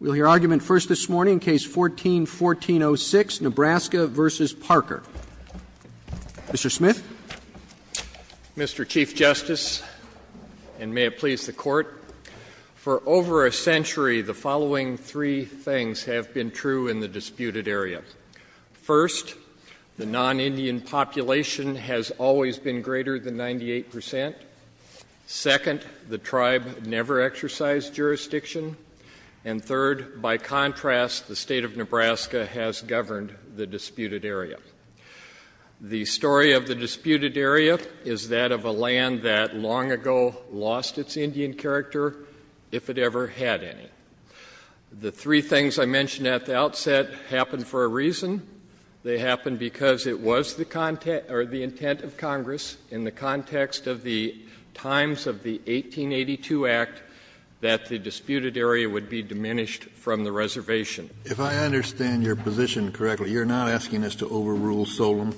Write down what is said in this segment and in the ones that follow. Mr. Chief Justice, and may it please the Court, for over a century the following three things have been true in the disputed area. First, the non-Indian population has always been greater than 98 percent. Second, the tribe never exercised jurisdiction. And third, by contrast, the state of Nebraska has governed the disputed area. The story of the disputed area is that of a land that long ago lost its Indian character, if it ever had any. The three things I mentioned at the outset happened for a reason. They happened because it was the intent of Congress in the context of the times of the 1882 Act that the disputed area would be diminished from the reservation. Kennedy, if I understand your position correctly, you're not asking us to overrule Solem?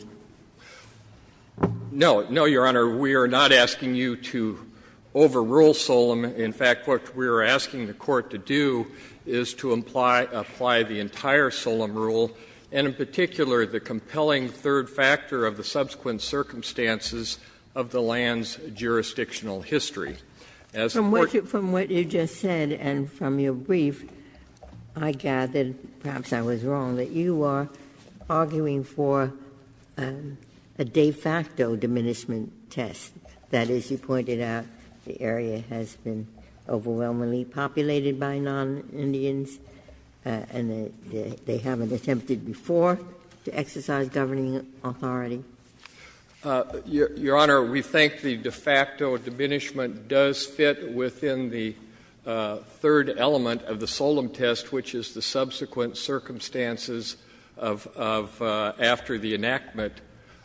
No. No, Your Honor. We are not asking you to overrule Solem. In fact, what we are asking the Court to do is to imply the entire Solem rule, and in particular the compelling third factor of the subsequent circumstances of the land's jurisdictional history. As the Court From what you just said and from your brief, I gather, perhaps I was wrong, that you are arguing for a de facto diminishment test, that as you pointed out, the area has been overwhelmingly populated by non-Indians, and they haven't attempted before to exercise governing authority. Your Honor, we think the de facto diminishment does fit within the third element of the Solem test, which is the subsequent circumstances of after the enactment.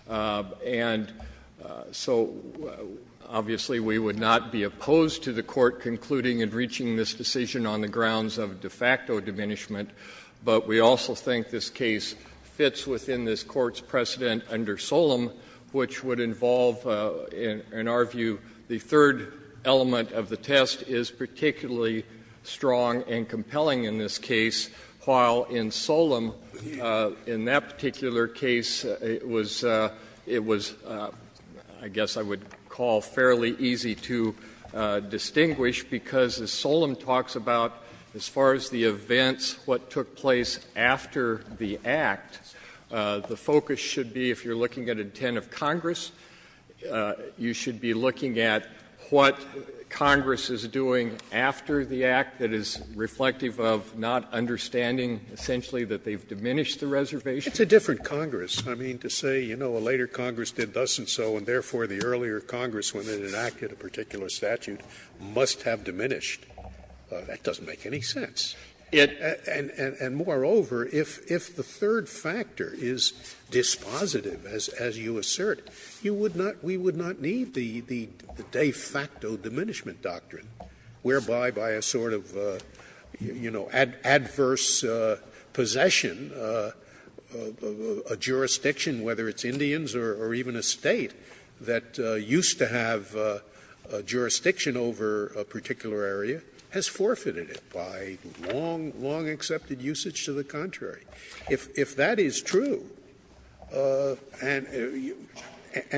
And so, obviously, we would not be opposed to the Court concluding and reaching this decision on the grounds of de facto diminishment, but we also think this case fits within this Court's precedent under Solem, which would involve, in our view, the third element of the test is particularly strong and compelling in this case, while in Solem, in that particular case, it was — it was, I guess I would call fairly easy to distinguish, because as Solem talks about, as far as the events, what took place after the Act, the focus should be, if you are looking at intent of Congress, you should be looking at what Congress is doing after the Act that is reflective of not understanding, essentially, that they have diminished the reservation. Scalia. It's a different Congress. I mean, to say, you know, a later Congress did thus and so, and therefore the earlier Congress, when it enacted a particular statute, must have diminished, that doesn't make any sense. And moreover, if the third factor is dispositive, as you assert, you would not — we have a de facto diminishment doctrine, whereby, by a sort of, you know, adverse possession, a jurisdiction, whether it's Indians or even a State, that used to have a jurisdiction over a particular area, has forfeited it by long, long-accepted usage to the contrary. If that is true, and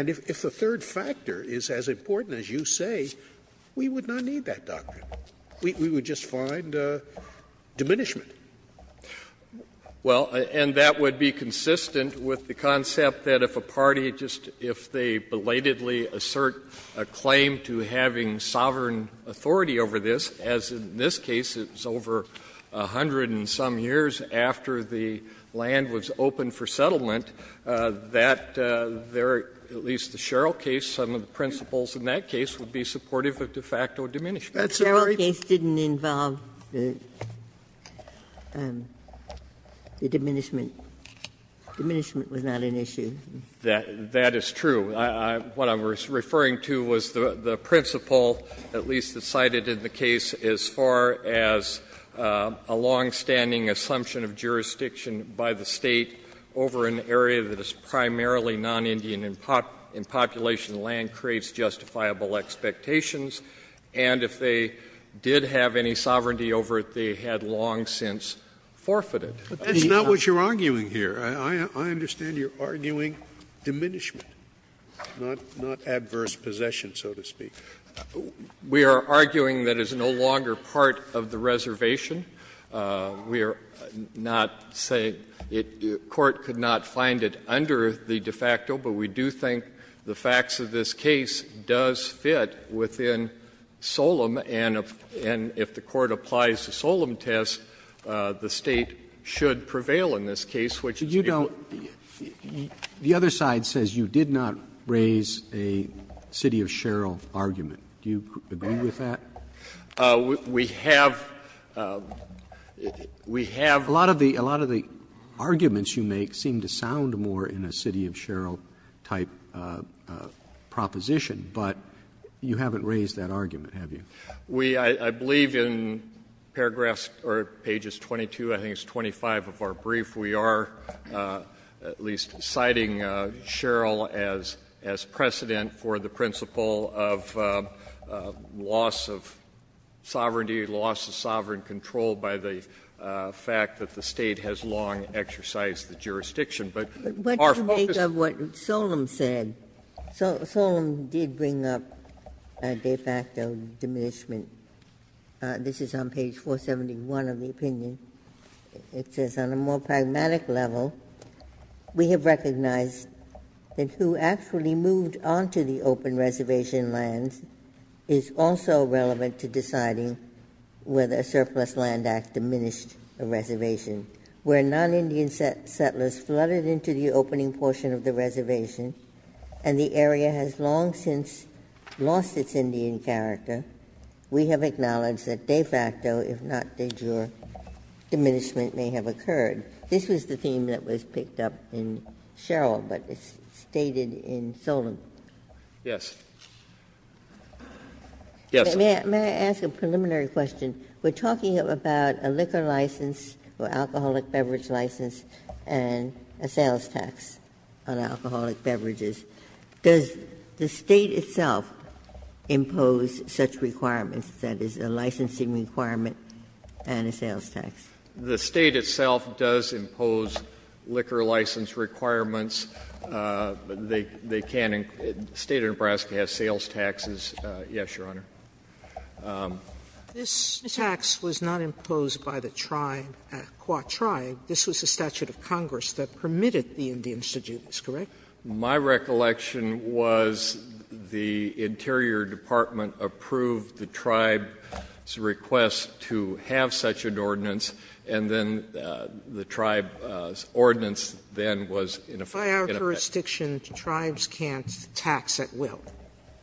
if the third factor is as important as you say, we would not need that doctrine. We would just find diminishment. Well, and that would be consistent with the concept that if a party just — if they belatedly assert a claim to having sovereign authority over this, as in this case it was over 100 and some years after the land was open for settlement, that there are at least the Sherrill case, some of the principles in that case would be supportive of de facto diminishment. Ginsburg. Sherrill case didn't involve the diminishment. Diminishment was not an issue. That is true. What I was referring to was the principle, at least cited in the case, as far as a long-standing assumption of jurisdiction by the State over an area that is primarily non-Indian in population land creates justifiable expectations. And if they did have any sovereignty over it, they had long since forfeited. Scalia. But that's not what you're arguing here. I understand you're arguing diminishment. Not adverse possession, so to speak. We are arguing that it's no longer part of the reservation. We are not saying it — the Court could not find it under the de facto, but we do think the facts of this case does fit within Solemn. And if the Court applies the Solemn test, the State should prevail in this case, which is able to do so. The other side says you did not raise a City of Sherrill argument. Do you agree with that? We have — we have— A lot of the — a lot of the arguments you make seem to sound more in a City of Sherrill type proposition, but you haven't raised that argument, have you? We — I believe in paragraphs or pages 22, I think it's 25 of our brief, we are at least citing Sherrill as precedent for the principle of loss of sovereignty, loss of sovereign control by the fact that the State has long exercised the jurisdiction. But our focus— Ginsburg. But what do you make of what Solemn said? Solemn did bring up a de facto diminishment. This is on page 471 of the opinion. It says, on a more pragmatic level, we have recognized that who actually moved onto the open reservation lands is also relevant to deciding whether a surplus land act diminished a reservation. Where non-Indian settlers flooded into the opening portion of the reservation and the area has long since lost its Indian character, we have acknowledged that de facto, if not de jure, diminishment may have occurred. This was the theme that was picked up in Sherrill, but it's stated in Solemn. Yes, ma'am. May I ask a preliminary question? We're talking about a liquor license or alcoholic beverage license and a sales tax on alcoholic beverages. Does the State itself impose such requirements, that is, a licensing requirement and a sales tax? The State itself does impose liquor license requirements. They can't impose the State of Nebraska has sales taxes, yes, Your Honor. This tax was not imposed by the tribe, the Quah tribe. This was a statute of Congress that permitted the Indians to do this, correct? My recollection was the Interior Department approved the tribe's request to have such an ordinance, and then the tribe's ordinance then was in effect. By our jurisdiction, tribes can't tax at will.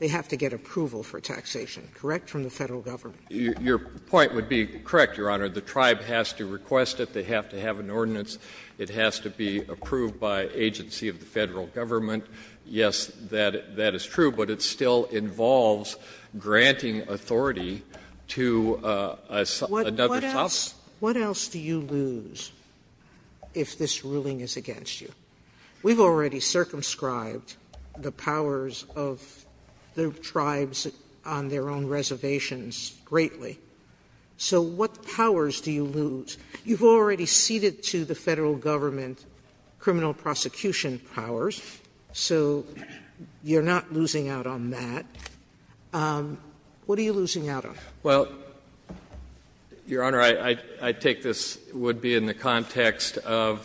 They have to get approval for taxation, correct, from the Federal Government? Your point would be correct, Your Honor. The tribe has to request it. They have to have an ordinance. It has to be approved by agency of the Federal Government. Yes, that is true, but it still involves granting authority to another tribe. What else do you lose if this ruling is against you? We've already circumscribed the powers of the tribes on their own reservations greatly. So what powers do you lose? You've already ceded to the Federal Government criminal prosecution powers, so you're not losing out on that. What are you losing out on? Well, Your Honor, I take this would be in the context of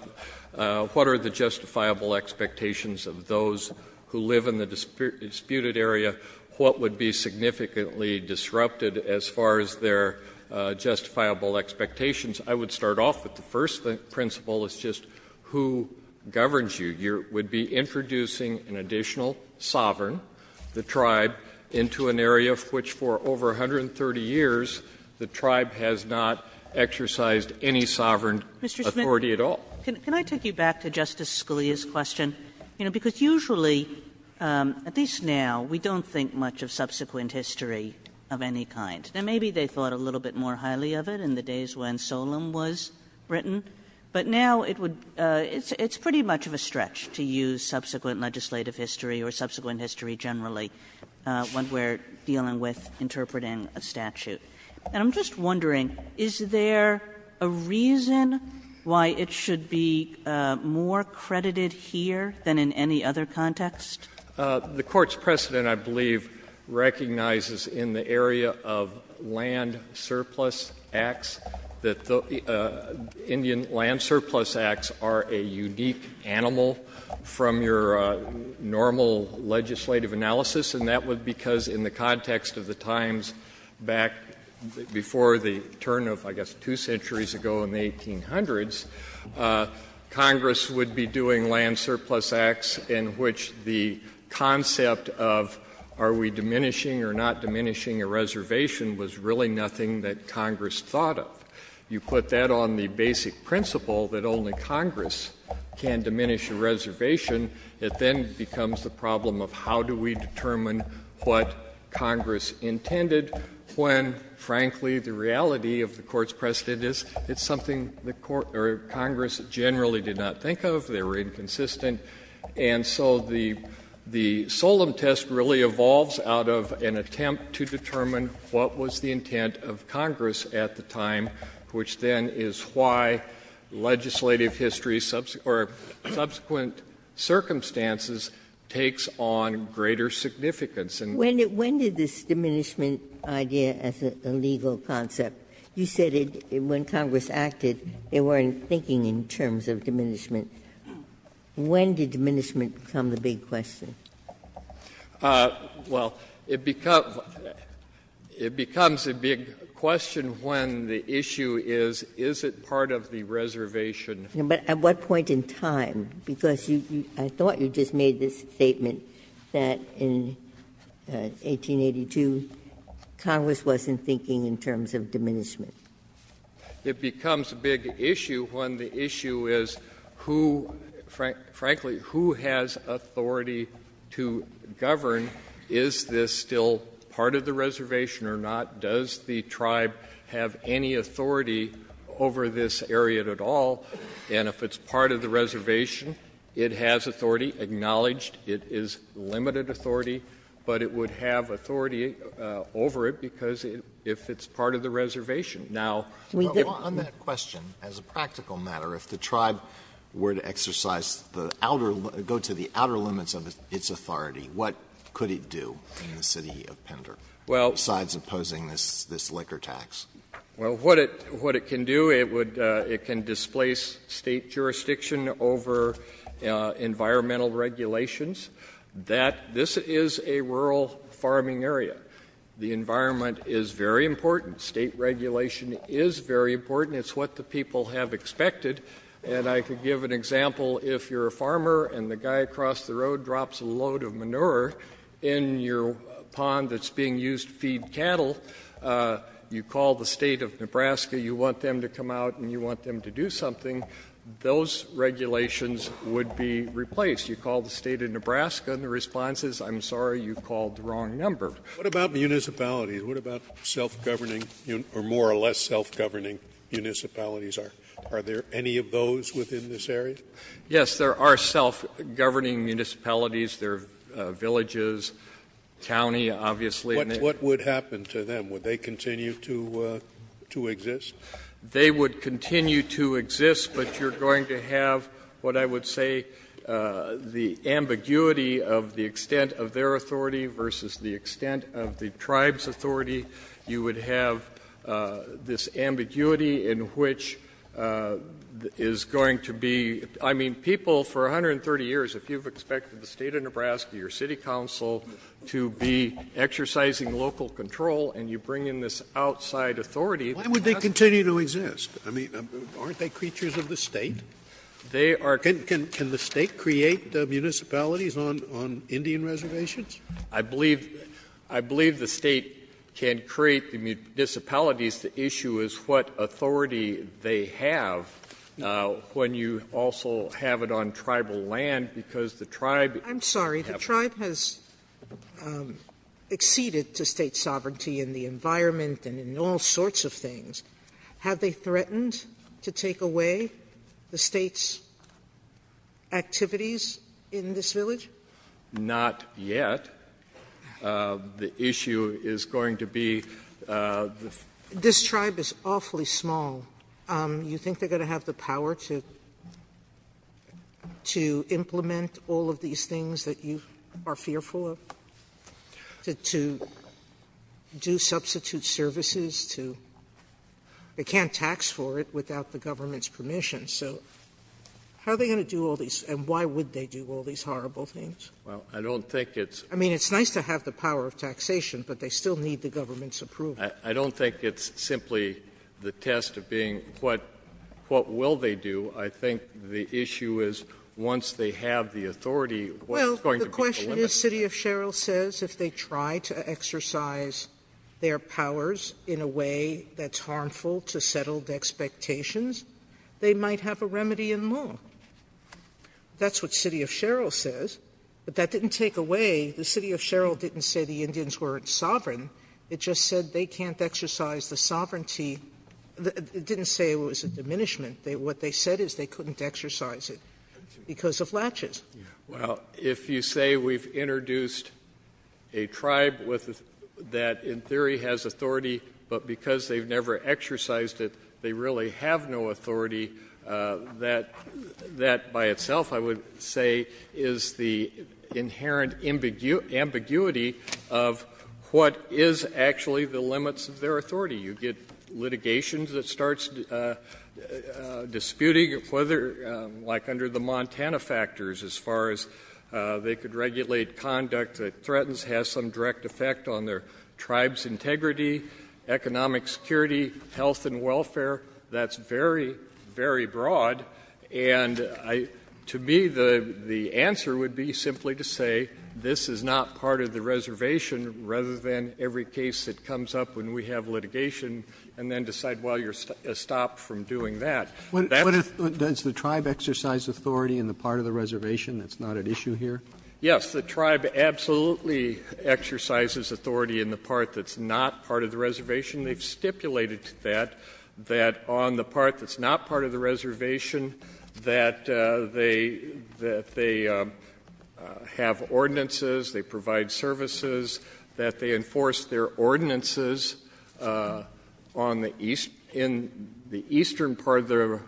what are the justifiable expectations of those who live in the disputed area, what would be significantly disrupted as far as their justifiable expectations. I would start off with the first principle is just who governs you. You would be introducing an additional sovereign, the tribe, into an area of which for over 130 years the tribe has not exercised any sovereign authority at all. Mr. Smith, can I take you back to Justice Scalia's question? You know, because usually, at least now, we don't think much of subsequent history of any kind. And maybe they thought a little bit more highly of it in the days when Solem was written. But now it would – it's pretty much of a stretch to use subsequent legislative history or subsequent history generally when we're dealing with interpreting a statute. And I'm just wondering, is there a reason why it should be more credited here than in any other context? The Court's precedent, I believe, recognizes in the area of land surplus acts that the Indian land surplus acts are a unique animal from your normal legislative analysis, and that would be because in the context of the times back before the turn of, I guess, two centuries ago in the 1800s, Congress would be doing land surplus acts in which the concept of are we diminishing or not diminishing a reservation was really nothing that Congress thought of. You put that on the basic principle that only Congress can diminish a reservation, it then becomes the problem of how do we determine what Congress intended when, frankly, the reality of the Court's precedent is it's something the Court or Congress generally did not think of. They were inconsistent. And so the – the Solemn test really evolves out of an attempt to determine what was the intent of Congress at the time, which then is why legislative history or subsequent circumstances takes on greater significance. And we're not going to diminish a reservation. Ginsburg. When did this diminishment idea as a legal concept, you said when Congress acted as if they weren't thinking in terms of diminishment, when did diminishment become the big question? Well, it becomes a big question when the issue is, is it part of the reservation? But at what point in time? Because you – I thought you just made this statement that in 1882 Congress wasn't thinking in terms of diminishment. It becomes a big issue when the issue is who, frankly, who has authority to govern? Is this still part of the reservation or not? Does the tribe have any authority over this area at all? And if it's part of the reservation, it has authority, acknowledged. It is limited authority. But it would have authority over it because if it's part of the reservation, now we give it to the tribe. On that question, as a practical matter, if the tribe were to exercise the outer – go to the outer limits of its authority, what could it do in the city of Pender? Well, what it can do, it would – it can displace State jurisdiction over environmental regulations that this is a rural farming area. The environment is very important. State regulation is very important. It's what the people have expected. And I could give an example. If you're a farmer and the guy across the road drops a load of manure in your pond that's being used to feed cattle, you call the State of Nebraska, you want them to come out and you want them to do something, those regulations would be replaced. You call the State of Nebraska and the response is, I'm sorry, you called the wrong number. Scalia. What about municipalities? What about self-governing or more or less self-governing municipalities? Are there any of those within this area? Yes, there are self-governing municipalities. There are villages, county, obviously. What would happen to them? Would they continue to exist? They would continue to exist, but you're going to have what I would say the ambiguity of the extent of their authority versus the extent of the tribe's authority. You would have this ambiguity in which is going to be, I mean, people for 130 years, if you've expected the State of Nebraska, your city council, to be exercising local control and you bring in this outside authority. Why would they continue to exist? I mean, aren't they creatures of the State? They are. Can the State create municipalities on Indian reservations? I believe the State can create the municipalities. The issue is what authority they have when you also have it on tribal land, because the tribe has to have authority. Sotomayor, I'm sorry, the tribe has acceded to State sovereignty in the environment and in all sorts of things. Have they threatened to take away the State's activities in this village? Not yet. The issue is going to be the... This tribe is awfully small. You think they're going to have the power to implement all of these things that you are fearful of, to do substitute services, to they can't tax for it without the government's permission, so how are they going to do all of these and why would they do all of these horrible things? Well, I don't think it's... I mean, it's nice to have the power of taxation, but they still need the government's approval. I don't think it's simply the test of being what will they do. I think the issue is once they have the authority, what's going to be the last thing they're going to do? Sotomayor, what it is City of Sherrill says, if they try to exercise their powers in a way that's harmful to settled expectations, they might have a remedy in law. That's what City of Sherrill says, but that didn't take away the City of Sherrill didn't say the Indians weren't sovereign. It just said they can't exercise the sovereignty. It didn't say it was a diminishment. What they said is they couldn't exercise it because of latches. Well, if you say we've introduced a tribe that in theory has authority, but because they've never exercised it, they really have no authority, that by itself, I would say, is the inherent ambiguity of what is actually the limits of their authority. You get litigations that starts disputing whether, like under the Montana factors, as far as they could regulate conduct that threatens, has some direct effect on their tribe's integrity, economic security, health and welfare. That's very, very broad. And to me, the answer would be simply to say this is not part of the reservation rather than every case that comes up when we have litigation and then decide, well, you're stopped from doing that. Does the tribe exercise authority in the part of the reservation that's not at issue here? Yes. The tribe absolutely exercises authority in the part that's not part of the reservation. They've stipulated to that, that on the part that's not part of the reservation, that they have ordinances, they provide services, that they enforce their ordinances on the east, in the eastern part of the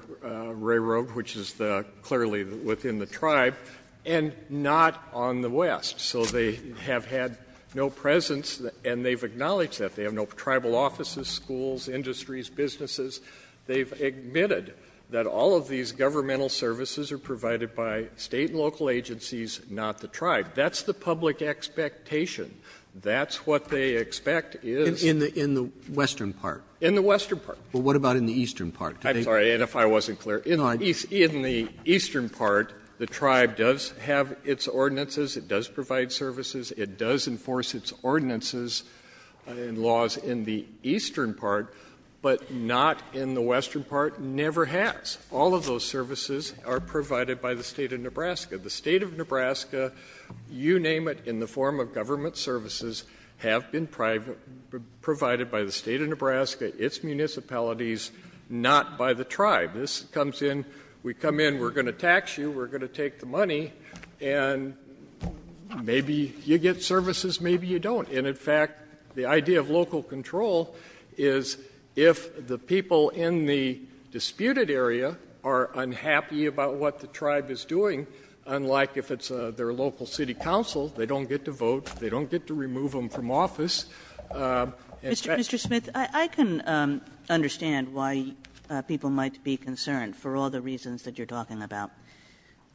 railroad, which is clearly within the tribe, and not on the west. So they have had no presence, and they've acknowledged that. They have no tribal offices, schools, industries, businesses. They've admitted that all of these governmental services are provided by state and local agencies, not the tribe. That's the public expectation. That's what they expect is. In the western part? In the western part. Well, what about in the eastern part? I'm sorry, Ed, if I wasn't clear. In the eastern part, the tribe does have its ordinances. It does provide services. It does enforce its ordinances and laws in the eastern part, but not in the western part. Never has. All of those services are provided by the state of Nebraska. The state of Nebraska, you name it, in the form of government services, have been provided by the state of Nebraska, its municipalities, not by the tribe. This comes in, we come in, we're going to tax you, we're going to take the money, and maybe you get services, maybe you don't. And in fact, the idea of local control is if the people in the disputed area are unhappy about what the tribe is doing, unlike if it's their local city council, they don't get to vote, they don't get to remove them from office. In fact- Mr. Smith, I can understand why people might be concerned for all the reasons that you're talking about.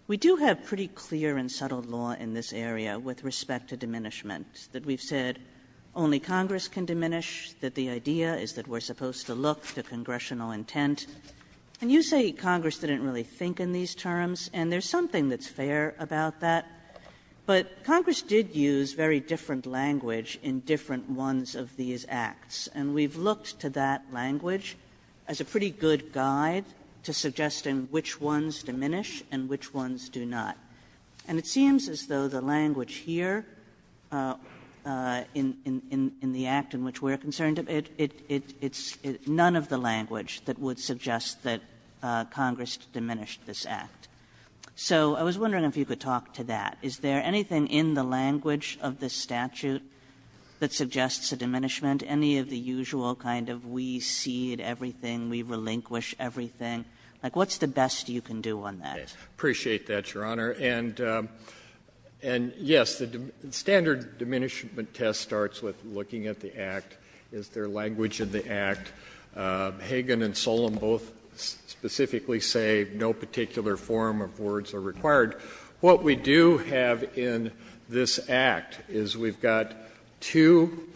We do have pretty clear and subtle law in this area with respect to diminishment. That we've said only Congress can diminish, that the idea is that we're supposed to look to congressional intent. And you say Congress didn't really think in these terms, and there's something that's fair about that. But Congress did use very different language in different ones of these acts. And we've looked to that language as a pretty good guide to suggesting which ones diminish and which ones do not. And it seems as though the language here in the act in which we're concerned, it's none of the language that would suggest that Congress diminished this act. So I was wondering if you could talk to that. Is there anything in the language of this statute that suggests a diminishment? Any of the usual kind of we cede everything, we relinquish everything? Like what's the best you can do on that? Appreciate that, Your Honor. And yes, the standard diminishment test starts with looking at the act. Is there language in the act? Hagan and Solem both specifically say no particular form of words are required. What we do have in this act is we've got two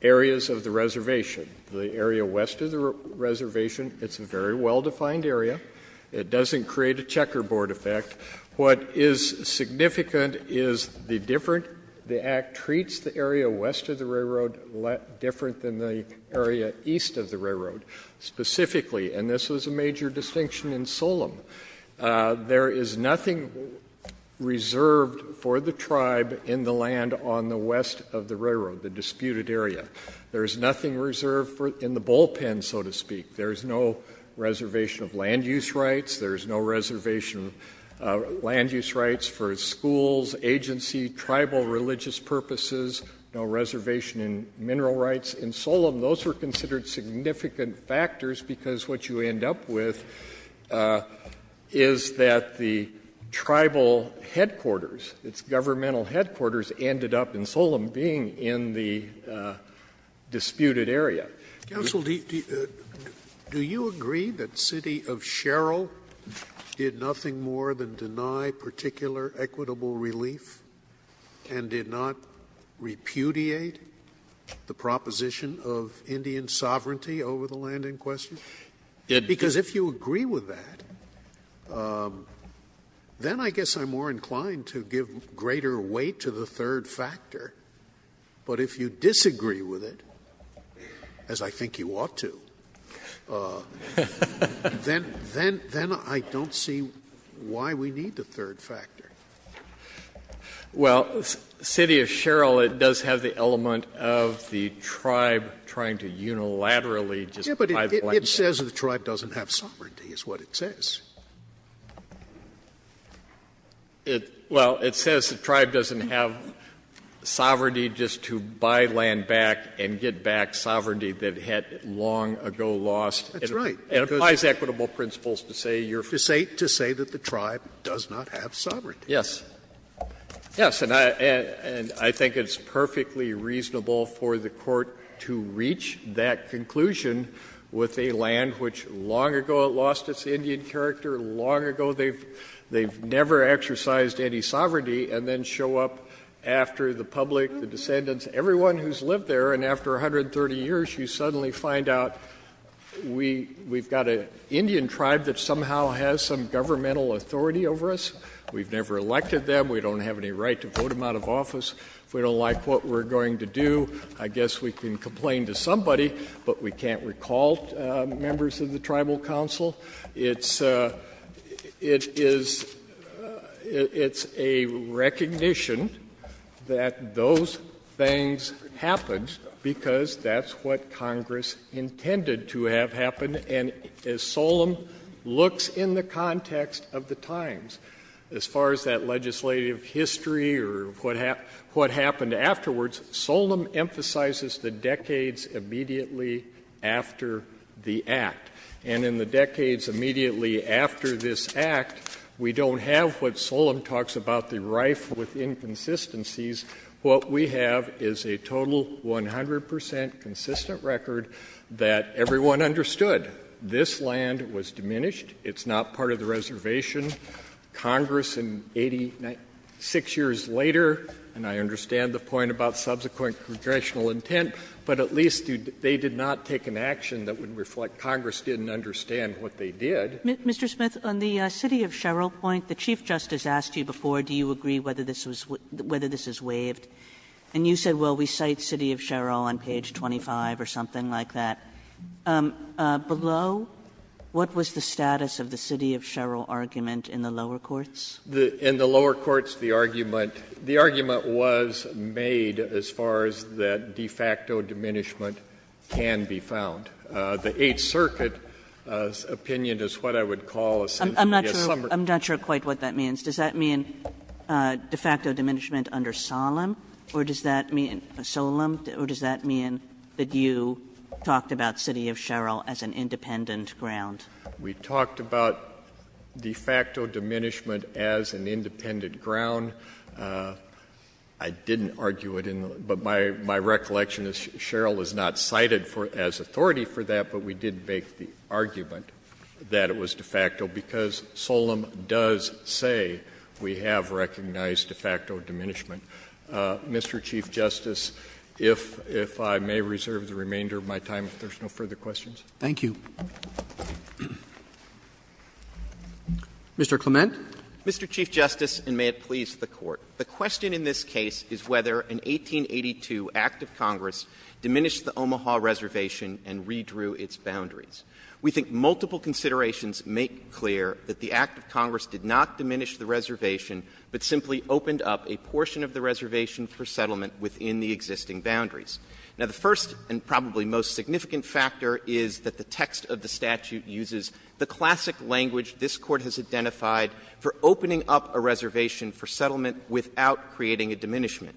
areas of the reservation. The area west of the reservation, it's a very well defined area. It doesn't create a checkerboard effect. What is significant is the act treats the area west of the railroad different than the area east of the railroad, specifically, and this was a major distinction in Solem. There is nothing reserved for the tribe in the land on the west of the railroad, the disputed area. There is nothing reserved in the bullpen, so to speak. There's no reservation of land use rights. There's no reservation of land use rights for schools, agency, tribal, religious purposes. No reservation in mineral rights. In Solem, those were considered significant factors because what you end up with is that the tribal headquarters, its governmental headquarters, ended up in Solem being in the disputed area. Scalia. Scalia. Counsel, do you agree that city of Sherrill did nothing more than deny particular equitable relief and did not repudiate the proposition of Indian sovereignty over the land in question? Because if you agree with that, then I guess I'm more inclined to give greater weight to the third factor. But if you disagree with it, as I think you ought to, then I don't see why we need the third factor. Well, city of Sherrill, it does have the element of the tribe trying to unilaterally just buy the land. Yes, but it says the tribe doesn't have sovereignty is what it says. Well, it says the tribe doesn't have sovereignty just to buy land back and get back sovereignty that it had long ago lost. That's right. It applies equitable principles to say you're free. To say that the tribe does not have sovereignty. Yes. Yes, and I think it's perfectly reasonable for the Court to reach that conclusion with a land which long ago lost its Indian character, long ago they've never exercised any sovereignty, and then show up after the public, the descendants, everyone who's lived there, and after 130 years, you suddenly find out we've got an Indian tribe that somehow has some governmental authority over us. We've never elected them. We don't have any right to vote them out of office. If we don't like what we're going to do, I guess we can complain to somebody, but we can't recall members of the Tribal Council. It's a recognition that those things happened because that's what Congress intended to have happen, and as Solem looks in the context of the times, as far as that legislative history or what happened afterwards, Solem emphasizes the decades immediately after the Act, and in the decades immediately after this Act, we don't have what Solem talks about, the rife with inconsistencies. What we have is a total 100 percent consistent record that everyone understood. This land was diminished. It's not part of the reservation. Congress in 86 years later, and I understand the point about subsequent congressional intent, but at least they did not take an action that would reflect Congress didn't understand what they did. Kagan Mr. Smith, on the City of Sherrold point, the Chief Justice asked you before, do you agree whether this was — whether this is waived, and you said, well, we cite City of Sherrold on page 25 or something like that. Below, what was the status of the City of Sherrold argument in the lower courts? Smith In the lower courts, the argument — the argument was made as far as that de facto diminishment can be found. The Eighth Circuit's opinion is what I would call essentially a summary. Kagan I'm not sure — I'm not sure quite what that means. Does that mean de facto diminishment under Solem, or does that mean — Solem, or does that mean that you talked about City of Sherrold as an independent ground? Smith We talked about de facto diminishment as an independent ground. I didn't argue it in the — but my recollection is Sherrold is not cited for — as authority for that, but we did make the argument that it was de facto, because Solem does say we have recognized de facto diminishment. Mr. Chief Justice, if I may reserve the remainder of my time, if there's no further questions. Roberts Thank you. Mr. Clement. Clement Mr. Chief Justice, and may it please the Court, the question in this case is whether an 1882 act of Congress diminished the Omaha Reservation and redrew its boundaries. We think multiple considerations make clear that the act of Congress did not diminish the reservation, but simply opened up a portion of the reservation for settlement within the existing boundaries. Now, the first and probably most significant factor is that the text of the statute uses the classic language this Court has identified for opening up a reservation for settlement without creating a diminishment.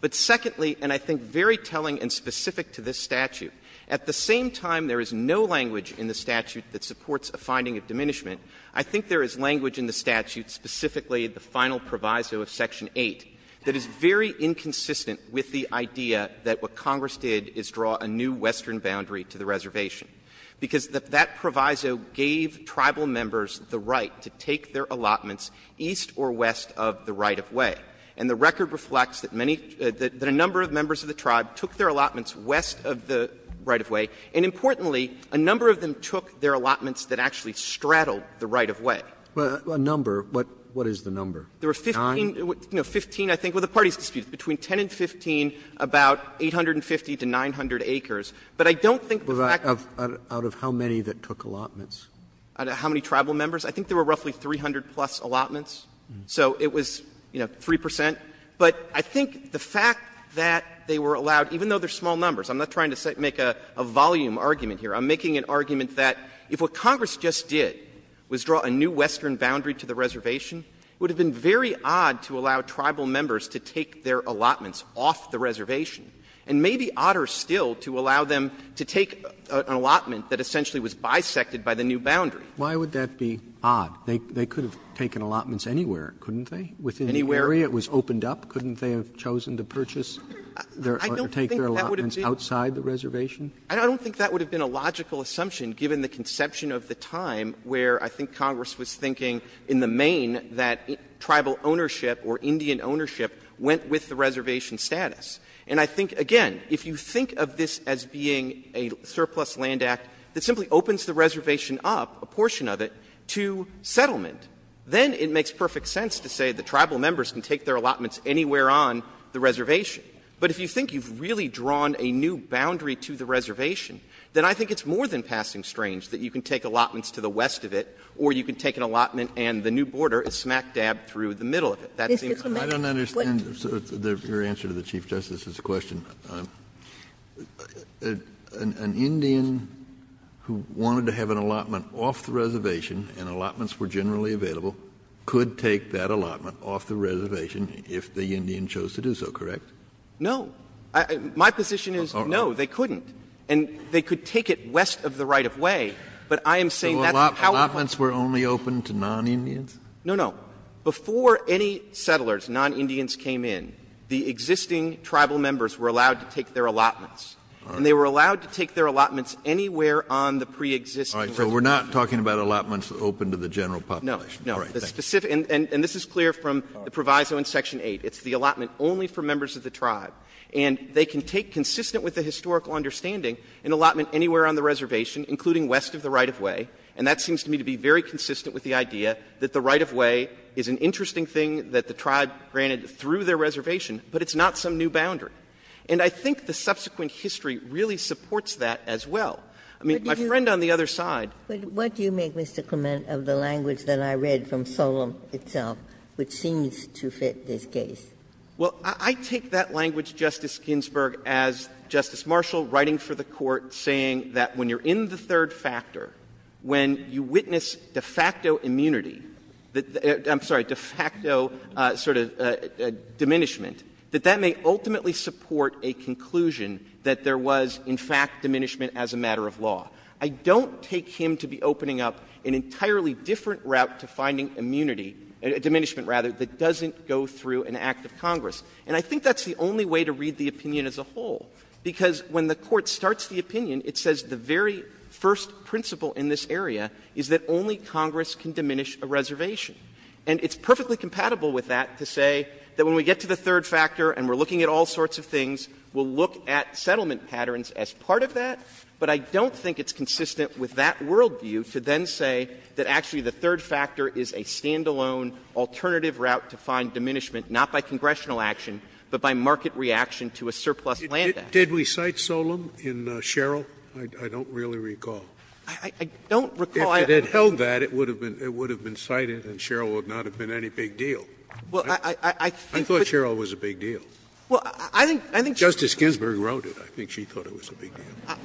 But secondly, and I think very telling and specific to this statute, at the same time there is no language in the statute that supports a finding of diminishment, I think there is language in the statute, specifically the final proviso of Section 8, that is very inconsistent with the idea that what Congress did is draw a new western boundary to the reservation, because that proviso gave tribal members the right to take their allotments east or west of the right-of-way. And the record reflects that many — that a number of members of the tribe took their allotments west of the right-of-way, and importantly, a number of them took their allotments east or west of the right-of-way and straddled the right-of-way. Roberts, a number, what is the number, 9? There were 15, I think, with the parties disputed, between 10 and 15, about 850 to 900 acres. But I don't think the fact of the fact of how many that took allotments, how many tribal members, I think there were roughly 300-plus allotments, so it was, you know, 3 percent. But I think the fact that they were allowed, even though they are small numbers, I'm not trying to make a volume argument here. I'm making an argument that if what Congress just did was draw a new western boundary to the reservation, it would have been very odd to allow tribal members to take their allotments off the reservation, and maybe odder still to allow them to take an allotment that essentially was bisected by the new boundary. Roberts, why would that be odd? They could have taken allotments anywhere, couldn't they? Within the area it was opened up, couldn't they have chosen to purchase or take their allotments outside the reservation? Clements, I don't think that would have been a logical assumption, given the conception of the time where I think Congress was thinking, in the main, that tribal ownership or Indian ownership went with the reservation status. And I think, again, if you think of this as being a surplus land act that simply opens the reservation up, a portion of it, to settlement, then it makes perfect sense to say the tribal members can take their allotments anywhere on the reservation. But if you think you've really drawn a new boundary to the reservation, then I think it's more than passing strange that you can take allotments to the west of it, or you can take an allotment and the new border is smack dab through the middle of it. That seems odd. I don't understand your answer to the Chief Justice's question. An Indian who wanted to have an allotment off the reservation, and allotments were generally available, could take that allotment off the reservation if the Indian chose to do so, correct? No. My position is, no, they couldn't. And they could take it west of the right-of-way, but I am saying that's powerful. So allotments were only open to non-Indians? No, no. Before any settlers, non-Indians came in, the existing tribal members were allowed to take their allotments. And they were allowed to take their allotments anywhere on the pre-existing reservation. All right. So we're not talking about allotments open to the general population. No. No. And this is clear from the proviso in section 8. It's the allotment only for members of the tribe. And they can take, consistent with the historical understanding, an allotment anywhere on the reservation, including west of the right-of-way. And that seems to me to be very consistent with the idea that the right-of-way is an interesting thing that the tribe granted through their reservation, but it's not some new boundary. And I think the subsequent history really supports that as well. I mean, my friend on the other side — But what do you make, Mr. Clement, of the language that I read from Solem itself, which seems to fit this case? Well, I take that language, Justice Ginsburg, as Justice Marshall writing for the Court saying that when you're in the third factor, when you witness de facto immunity — I'm sorry, de facto sort of diminishment — that that may ultimately support a conclusion that there was, in fact, diminishment as a matter of law. I don't take him to be opening up an entirely different route to finding immunity — diminishment, rather — that doesn't go through an act of Congress. And I think that's the only way to read the opinion as a whole, because when the Court starts the opinion, it says the very first principle in this area is that only Congress can diminish a reservation. And it's perfectly compatible with that to say that when we get to the third factor and we're looking at all sorts of things, we'll look at settlement patterns as part of that, but I don't think it's consistent with that worldview to then say that actually the third factor is a stand-alone, alternative route to find diminishment, not by congressional action, but by market reaction to a surplus land act. Did we cite Solem in Sherrill? I don't really recall. I don't recall. If it had held that, it would have been cited and Sherrill would not have been any big deal. Well, I think— I thought Sherrill was a big deal. Well, I think— Justice Ginsburg wrote it. I think she thought it was a big deal.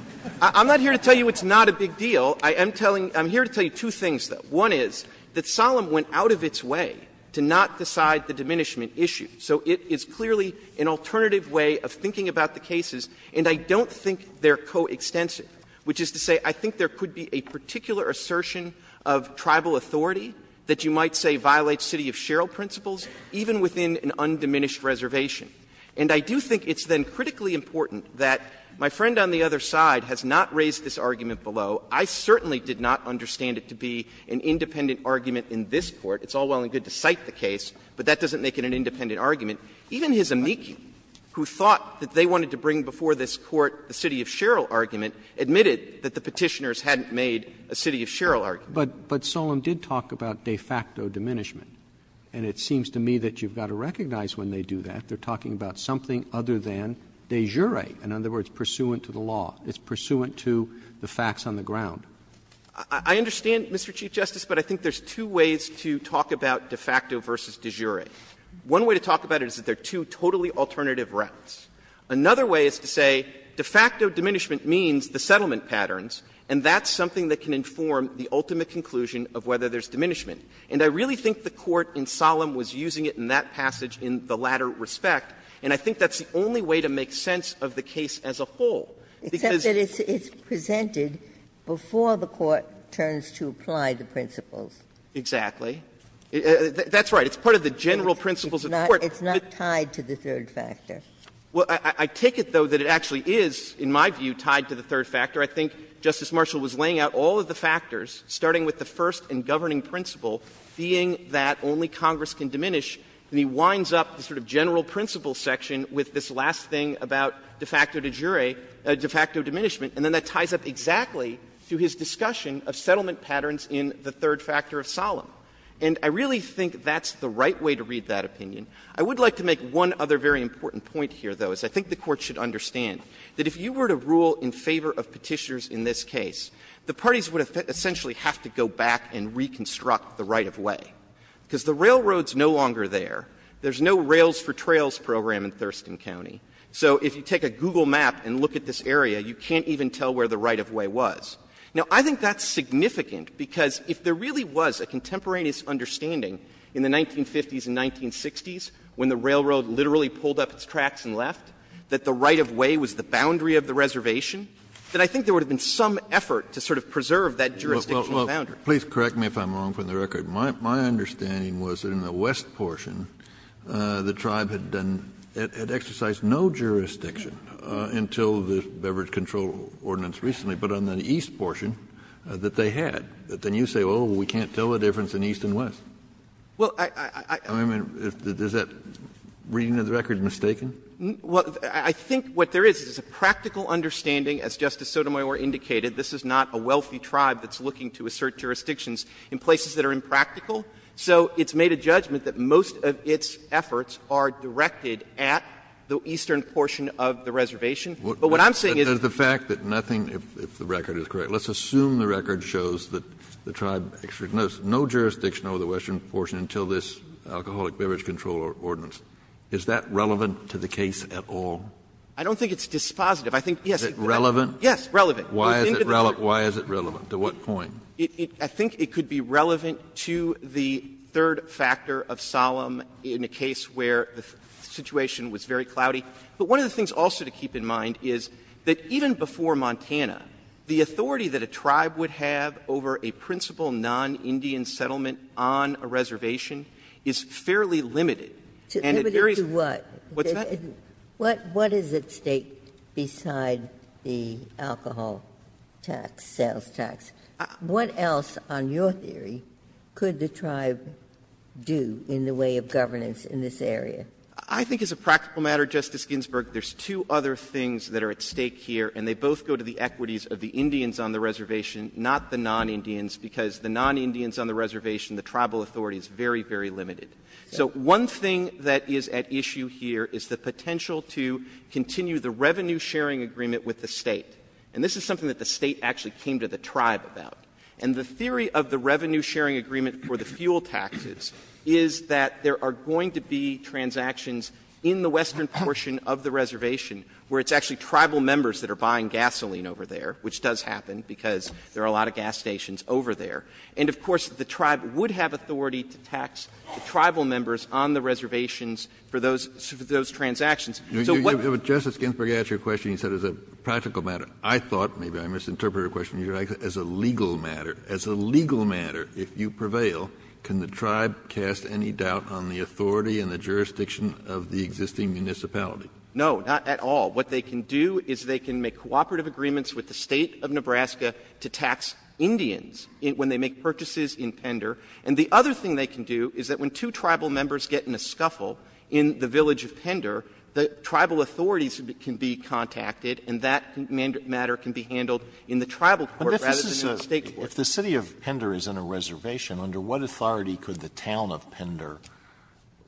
I'm not here to tell you it's not a big deal. I am telling — I'm here to tell you two things, though. One is that Solem went out of its way to not decide the diminishment issue. So it is clearly an alternative way of thinking about the cases, and I don't think they're coextensive, which is to say I think there could be a particular assertion of tribal authority that you might say violates city of Sherrill principles even within an undiminished reservation. And I do think it's then critically important that my friend on the other side has not raised this argument below. I certainly did not understand it to be an independent argument in this Court. It's all well and good to cite the case, but that doesn't make it an independent argument. Even his amici, who thought that they wanted to bring before this Court the city of Sherrill argument, admitted that the Petitioners hadn't made a city of Sherrill argument. Roberts. But Solem did talk about de facto diminishment, and it seems to me that you've got to recognize when they do that they're talking about something other than de jure, in other words, pursuant to the law. It's pursuant to the facts on the ground. Clements. I understand, Mr. Chief Justice, but I think there's two ways to talk about de facto versus de jure. One way to talk about it is that there are two totally alternative routes. Another way is to say de facto diminishment means the settlement patterns, and that's something that can inform the ultimate conclusion of whether there's diminishment. And I really think the Court in Solem was using it in that passage in the latter respect, and I think that's the only way to make sense of the case as a whole. Because the court turns to apply the principles. Exactly. That's right. It's part of the general principles of the Court. It's not tied to the third factor. Well, I take it, though, that it actually is, in my view, tied to the third factor. I think Justice Marshall was laying out all of the factors, starting with the first and governing principle being that only Congress can diminish, and he winds up the sort of general principle section with this last thing about de facto de jure, de facto diminishment, and then that ties up exactly to his discussion of settlement patterns in the third factor of Solem. And I really think that's the right way to read that opinion. I would like to make one other very important point here, though, as I think the Court should understand, that if you were to rule in favor of Petitioners in this case, the parties would essentially have to go back and reconstruct the right-of-way. Because the railroad's no longer there. There's no Rails for Trails program in Thurston County. So if you take a Google map and look at this area, you can't even tell where the right-of-way was. Now, I think that's significant, because if there really was a contemporaneous understanding in the 1950s and 1960s when the railroad literally pulled up its tracks and left, that the right-of-way was the boundary of the reservation, then I think there would have been some effort to sort of preserve that jurisdictional boundary. Kennedy, please correct me if I'm wrong from the record. My understanding was that in the west portion, the tribe had done — had exercised no jurisdiction until the Beverage Control Ordinance recently, but on the east portion that they had. But then you say, well, we can't tell the difference in east and west. I mean, is that reading of the record mistaken? Well, I think what there is, is a practical understanding, as Justice Sotomayor indicated, this is not a wealthy tribe that's looking to assert jurisdictions in places that are impractical. So it's made a judgment that most of its efforts are directed at the eastern portion of the reservation. But what I'm saying is that the fact that nothing — if the record is correct, let's assume the record shows that the tribe exercised no jurisdiction over the western portion until this Alcoholic Beverage Control Ordinance. Is that relevant to the case at all? I don't think it's dispositive. I think, yes. Is it relevant? Yes, relevant. Why is it relevant? Why is it relevant? To what point? I think it could be relevant to the third factor of solemn in a case where the situation was very cloudy. But one of the things also to keep in mind is that even before Montana, the authority that a tribe would have over a principal non-Indian settlement on a reservation is fairly limited. And it varies — Limited to what? What's that? What is at stake beside the alcohol tax, sales tax? What else, on your theory, could the tribe do in the way of governance in this area? I think as a practical matter, Justice Ginsburg, there's two other things that are at stake here, and they both go to the equities of the Indians on the reservation, not the non-Indians, because the non-Indians on the reservation, the tribal authority is very, very limited. So one thing that is at issue here is the potential to continue the revenue-sharing agreement with the State. And this is something that the State actually came to the tribe about. And the theory of the revenue-sharing agreement for the fuel taxes is that there are going to be transactions in the western portion of the reservation where it's actually tribal members that are buying gasoline over there, which does happen, because there are a lot of gas stations over there. And of course, the tribe would have authority to tax the tribal members on the reservations for those — for those transactions. So what — Kennedy, you know, Justice Ginsburg, you asked your question, you said it was a practical matter. I thought, maybe I misinterpreted your question, as a legal matter, as a legal matter, if you prevail, can the tribe cast any doubt on the authority and the jurisdiction of the existing municipality? No, not at all. What they can do is they can make cooperative agreements with the State of Nebraska to tax Indians when they make purchases in Pender. And the other thing they can do is that when two tribal members get in a scuffle in the village of Pender, the tribal authorities can be contacted, and that matter can be handled in the tribal court rather than in the State court. But if this is a — if the city of Pender is in a reservation, under what authority could the town of Pender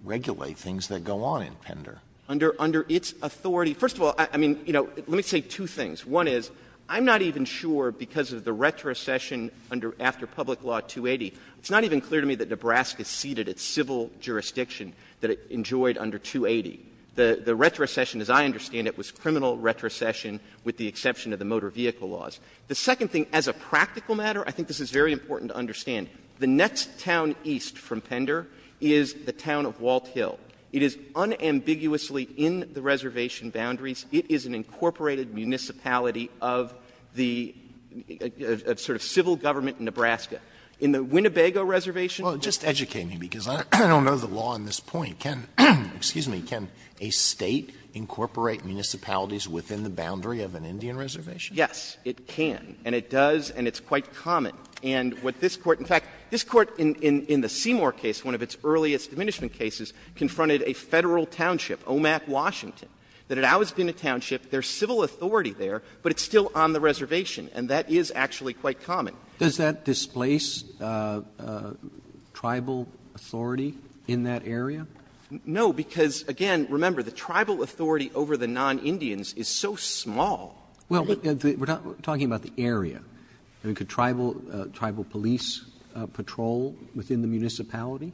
regulate things that go on in Pender? Under its authority — first of all, I mean, you know, let me say two things. One is, I'm not even sure, because of the retrocession under — after Public Law 280, it's not even clear to me that Nebraska ceded its civil jurisdiction that it enjoyed under 280. The retrocession, as I understand it, was criminal retrocession with the exception of the motor vehicle laws. The second thing, as a practical matter, I think this is very important to understand. The next town east from Pender is the town of Walt Hill. It is unambiguously in the reservation boundaries. It is an incorporated municipality of the — of sort of civil government in Nebraska. In the Winnebago reservation — Well, just educate me, because I don't know the law on this point. Can — excuse me. Can a State incorporate municipalities within the boundary of an Indian reservation? Yes, it can. And it does, and it's quite common. And what this Court — in fact, this Court in the Seymour case, one of its earliest diminishment cases, confronted a Federal township, Omak, Washington, that had always been a township. There's civil authority there, but it's still on the reservation, and that is actually quite common. Does that displace tribal authority in that area? No, because, again, remember, the tribal authority over the non-Indians is so small. Well, we're talking about the area. I mean, could tribal police patrol within the municipality?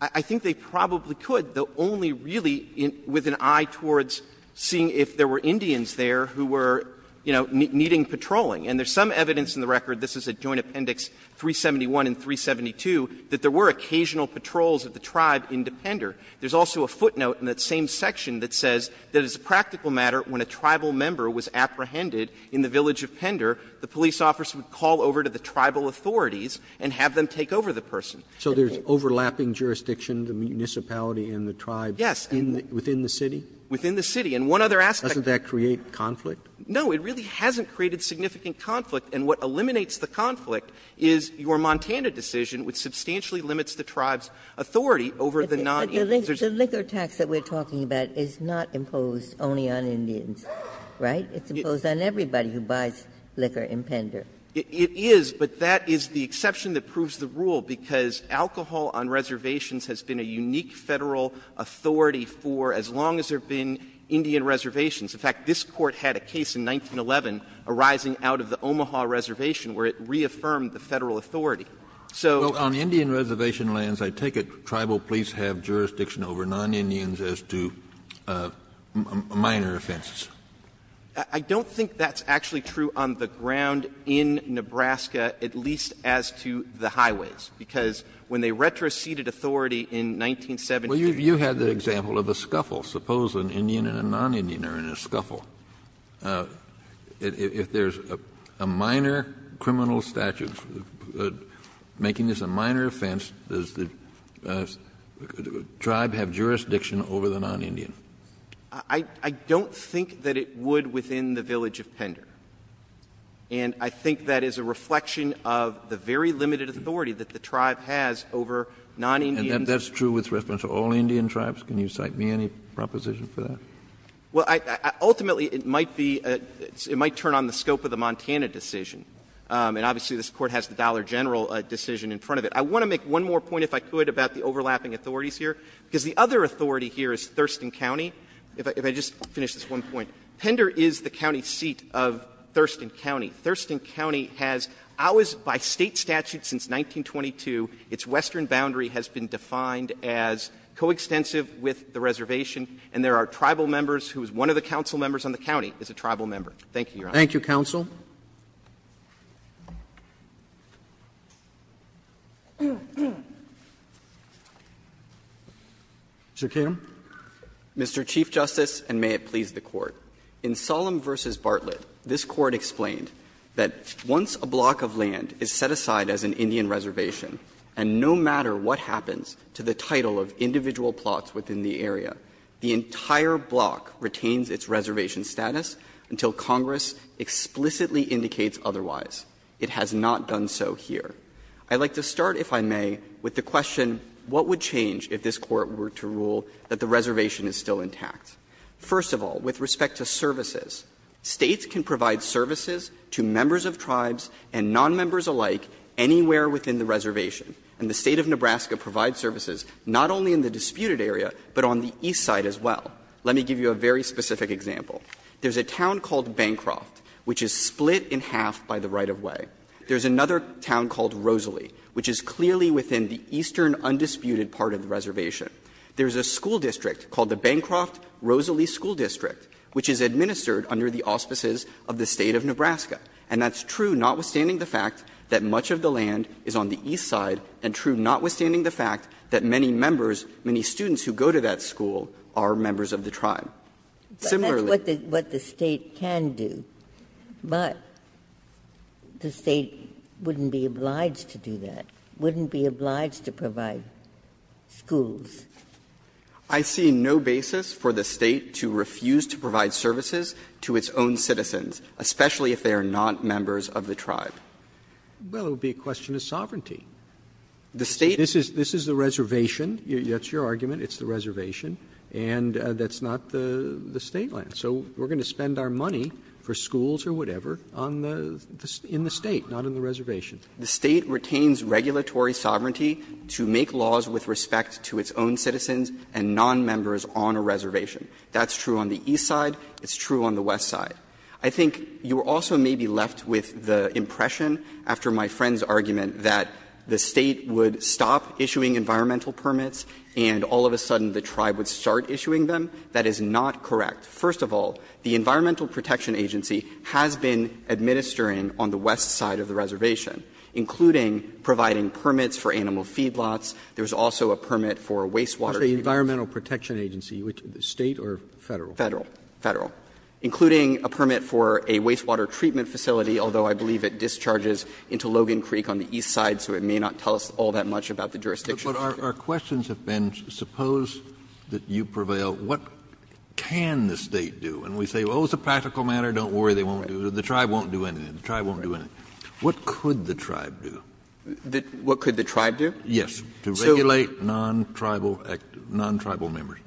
I think they probably could, though only really with an eye towards seeing if there were Indians there who were, you know, needing patrolling. And there's some evidence in the record, this is at Joint Appendix 371 and 372, that there were occasional patrols of the tribe into Pender. There's also a footnote in that same section that says that as a practical matter, when a tribal member was apprehended in the village of Pender, the police officer would call over to the tribal authorities and have them take over the person. So there's overlapping jurisdiction, the municipality and the tribes. Yes. Within the city? Within the city. And one other aspect. Doesn't that create conflict? No, it really hasn't created significant conflict. And what eliminates the conflict is your Montana decision, which substantially limits the tribe's authority over the non-Indians. But the liquor tax that we're talking about is not imposed only on Indians, right? It's imposed on everybody who buys liquor in Pender. It is, but that is the exception that proves the rule, because alcohol on reservations has been a unique Federal authority for as long as there have been Indian reservations. In fact, this Court had a case in 1911 arising out of the Omaha Reservation where it reaffirmed the Federal authority. So the reason I'm saying that's not true is because it's not true in Nebraska. I don't think that's actually true on the ground in Nebraska, at least as to the highways. Because when they retroceded authority in 1970, there was no reason for it to be true. Well, you had the example of a scuffle. Suppose an Indian and a non-Indian are in a scuffle. If there's a minor criminal statute making this a minor offense, does the tribe have jurisdiction over the non-Indian? I don't think that it would within the village of Pender. And I think that is a reflection of the very limited authority that the tribe has over non-Indians. And that's true with reference to all Indian tribes? Can you cite me any proposition for that? Well, ultimately, it might be a — it might turn on the scope of the Montana decision. And obviously, this Court has the Dollar General decision in front of it. I want to make one more point, if I could, about the overlapping authorities here, because the other authority here is Thurston County. If I just finish this one point, Pender is the county seat of Thurston County. Thurston County has always, by State statute since 1922, its western boundary has been defined as coextensive with the reservation. And there are tribal members whose one of the council members on the county is a tribal Thank you, Your Honor. Thank you, counsel. Mr. Kim. Mr. Chief Justice, and may it please the Court. In Solem v. Bartlett, this Court explained that once a block of land is set aside as an Indian reservation, and no matter what happens to the title of individual plots within the area, the entire block retains its reservation status until Congress explicitly indicates otherwise. It has not done so here. I'd like to start, if I may, with the question, what would change if this Court were to rule that the reservation is still intact? First of all, with respect to services, States can provide services to members of tribes and nonmembers alike anywhere within the reservation. And the State of Nebraska provides services not only in the disputed area, but on the east side as well. Let me give you a very specific example. There's a town called Bancroft, which is split in half by the right-of-way. There's another town called Rosalie, which is clearly within the eastern undisputed part of the reservation. There's a school district called the Bancroft-Rosalie School District, which is administered under the auspices of the State of Nebraska. And that's true, notwithstanding the fact that much of the land is on the east side, and true, notwithstanding the fact that many members, many students who go to that school are members of the tribe. Similarly the State can do, but the State wouldn't be obliged to do that, wouldn't be obliged to provide schools. I see no basis for the State to refuse to provide services to its own citizens, especially if they are not members of the tribe. Roberts. Well, it would be a question of sovereignty. The State. This is the reservation. That's your argument. It's the reservation. And that's not the State land. So we're going to spend our money for schools or whatever on the State, not on the reservation. The State retains regulatory sovereignty to make laws with respect to its own citizens and nonmembers on a reservation. That's true on the east side. It's true on the west side. I think you also may be left with the impression, after my friend's argument, that the State would stop issuing environmental permits and all of a sudden the tribe would start issuing them. That is not correct. First of all, the Environmental Protection Agency has been administering on the west side of the reservation, including providing permits for animal feedlots. There's also a permit for wastewater. Roberts. Environmental Protection Agency, State or Federal? Federal. Federal. Including a permit for a wastewater treatment facility, although I believe it discharges into Logan Creek on the east side, so it may not tell us all that much about the jurisdiction. But our questions have been, suppose that you prevail, what can the State do? And we say, well, it's a practical matter, don't worry, they won't do it. The tribe won't do anything. The tribe won't do anything. What could the tribe do? What could the tribe do? Yes. To regulate non-tribal members.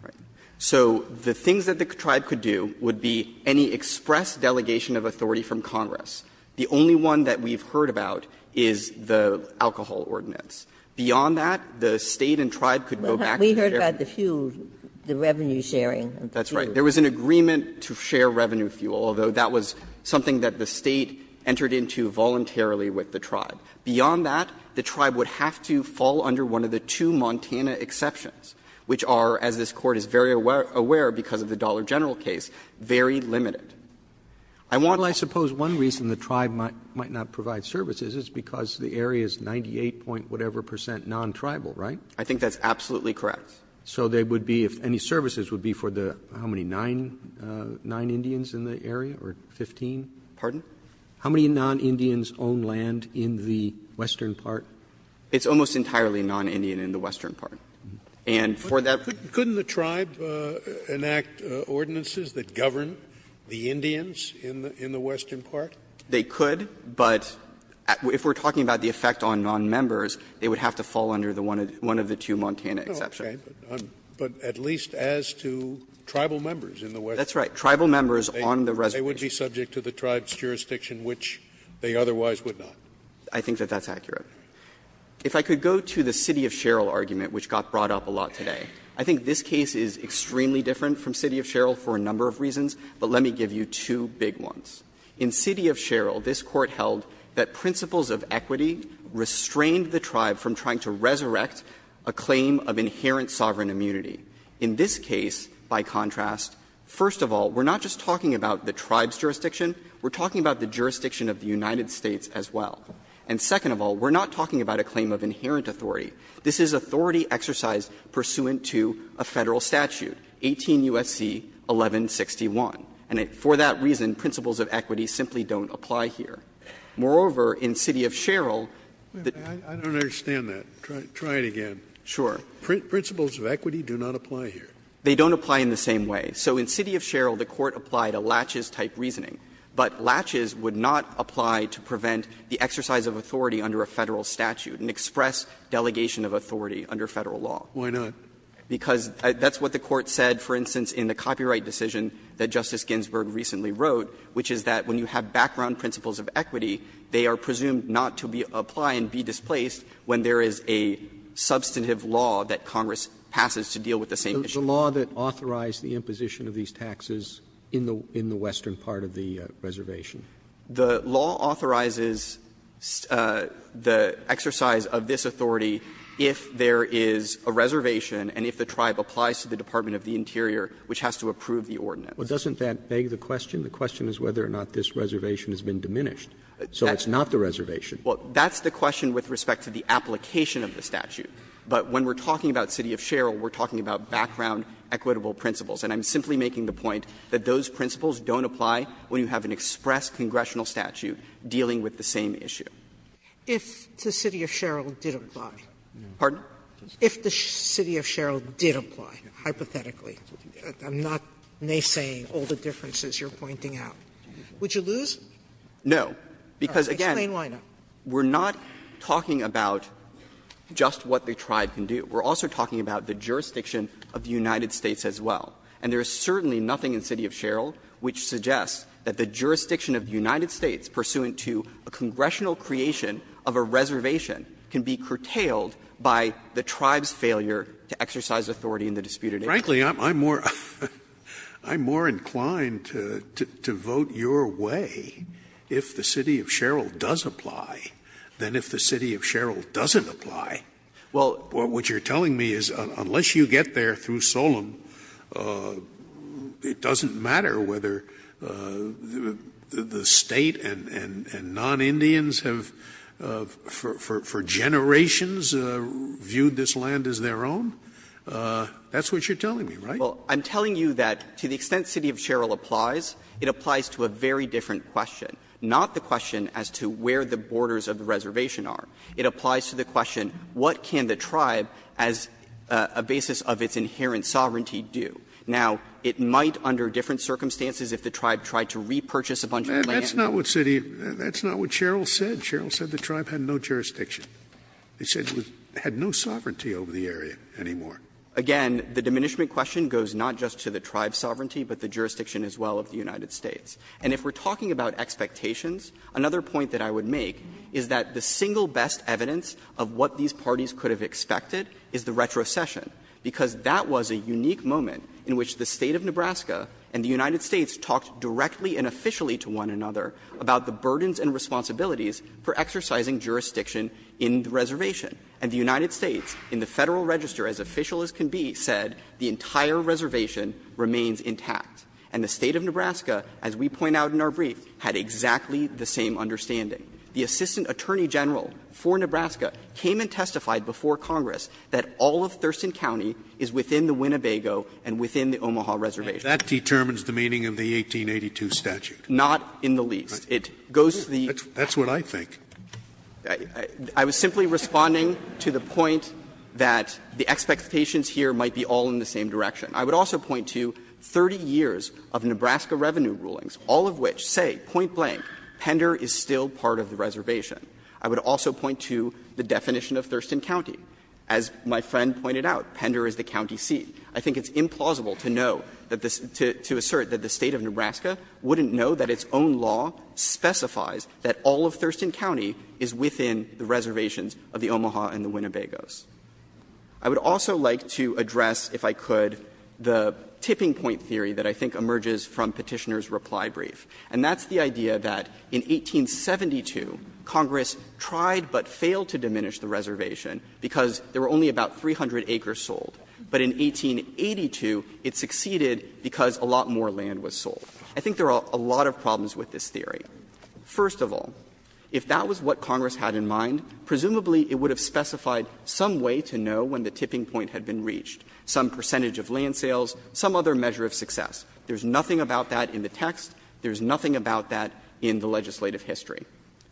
So the things that the tribe could do would be any express delegation of authority from Congress. The only one that we've heard about is the alcohol ordinance. Beyond that, the State and tribe could go back to the different. We heard about the fuel, the revenue sharing. That's right. There was an agreement to share revenue fuel, although that was something that the State entered into voluntarily with the tribe. Beyond that, the tribe would have to fall under one of the two Montana exceptions, which are, as this Court is very aware because of the Dollar General case, very limited. I want all of that. Roberts Well, I suppose one reason the tribe might not provide services is because the area is 98-point-whatever-percent non-tribal, right? I think that's absolutely correct. So they would be, if any services would be for the, how many, nine Indians in the area, or 15? Pardon? How many non-Indians own land in the western part? It's almost entirely non-Indian in the western part. And for that Scalia Couldn't the tribe enact ordinances that govern the Indians in the western part? They could, but if we're talking about the effect on non-members, they would have to fall under the one of the two Montana exceptions. Scalia But at least as to tribal members in the western part. That's right. Tribal members on the reservation. Scalia They would be subject to the tribe's jurisdiction, which they otherwise would not. I think that that's accurate. If I could go to the City of Sherrill argument, which got brought up a lot today. I think this case is extremely different from City of Sherrill for a number of reasons, but let me give you two big ones. In City of Sherrill, this Court held that principles of equity restrained the tribe from trying to resurrect a claim of inherent sovereign immunity. In this case, by contrast, first of all, we're not just talking about the tribe's jurisdiction, we're talking about the jurisdiction of the United States as well. And second of all, we're not talking about a claim of inherent authority. This is authority exercised pursuant to a Federal statute, 18 U.S.C. 1161. And for that reason, principles of equity simply don't apply here. Moreover, in City of Sherrill, the Court applied a laches-type reasoning, but laches exercise of authority under a Federal statute and express delegation of authority under Federal law. Roberts, because that's what the Court said, for instance, in the copyright decision that Justice Ginsburg recently wrote, which is that when you have background principles of equity, they are presumed not to be applied and be displaced when there is a substantive law that Congress passes to deal with the same issue. Roberts, the law that authorized the imposition of these taxes in the western part of the reservation? The law authorizes the exercise of this authority if there is a reservation and if the tribe applies to the Department of the Interior, which has to approve the ordinance. Well, doesn't that beg the question? The question is whether or not this reservation has been diminished. So it's not the reservation. Well, that's the question with respect to the application of the statute. But when we're talking about City of Sherrill, we're talking about background equitable principles. And I'm simply making the point that those principles don't apply when you have an express congressional statute dealing with the same issue. Sotomayor, if the City of Sherrill did apply. Pardon? If the City of Sherrill did apply, hypothetically, I'm not naysaying all the differences you're pointing out, would you lose? No, because, again, we're not talking about just what the tribe can do. We're also talking about the jurisdiction of the United States as well. And there is certainly nothing in City of Sherrill which suggests that the jurisdiction of the United States pursuant to a congressional creation of a reservation can be curtailed by the tribe's failure to exercise authority in the disputed area. Scalia, I'm more inclined to vote your way if the City of Sherrill does apply than if the City of Sherrill doesn't apply. Well, what you're telling me is unless you get there through Solem, it doesn't matter whether the State and non-Indians have for generations viewed this land as their own? That's what you're telling me, right? Well, I'm telling you that to the extent City of Sherrill applies, it applies to a very different question, not the question as to where the borders of the reservation are. It applies to the question, what can the tribe as a basis of its inherent sovereignty do? Now, it might under different circumstances if the tribe tried to repurchase a bunch of land. That's not what City of Sherrill said. Sherrill said the tribe had no jurisdiction. He said it had no sovereignty over the area anymore. Again, the diminishment question goes not just to the tribe's sovereignty, but the jurisdiction as well of the United States. And if we're talking about expectations, another point that I would make is that the single best evidence of what these parties could have expected is the retrocession, because that was a unique moment in which the State of Nebraska and the United States talked directly and officially to one another about the burdens and responsibilities for exercising jurisdiction in the reservation. And the United States, in the Federal Register, as official as can be, said the entire reservation remains intact. And the State of Nebraska, as we point out in our brief, had exactly the same understanding. The Assistant Attorney General for Nebraska came and testified before Congress that all of Thurston County is within the Winnebago and within the Omaha reservation. Scalia And that determines the meaning of the 1882 statute? Not in the least. It goes to the next point. That's what I think. I was simply responding to the point that the expectations here might be all in the same direction. I would also like to address, if I could, the tipping point theory that I think emerges from Petitioner's reply brief, and that's the idea that in 1872, the State of Nebraska of the Omaha and the Winnebago. In 1882, Congress tried but failed to diminish the reservation because there were only about 300 acres sold. But in 1882, it succeeded because a lot more land was sold. I think there are a lot of problems with this theory. First of all, if that was what Congress had in mind, presumably it would have specified some way to know when the tipping point had been reached, some percentage of land sales, some other measure of success. There's nothing about that in the text. There's nothing about that in the legislative history.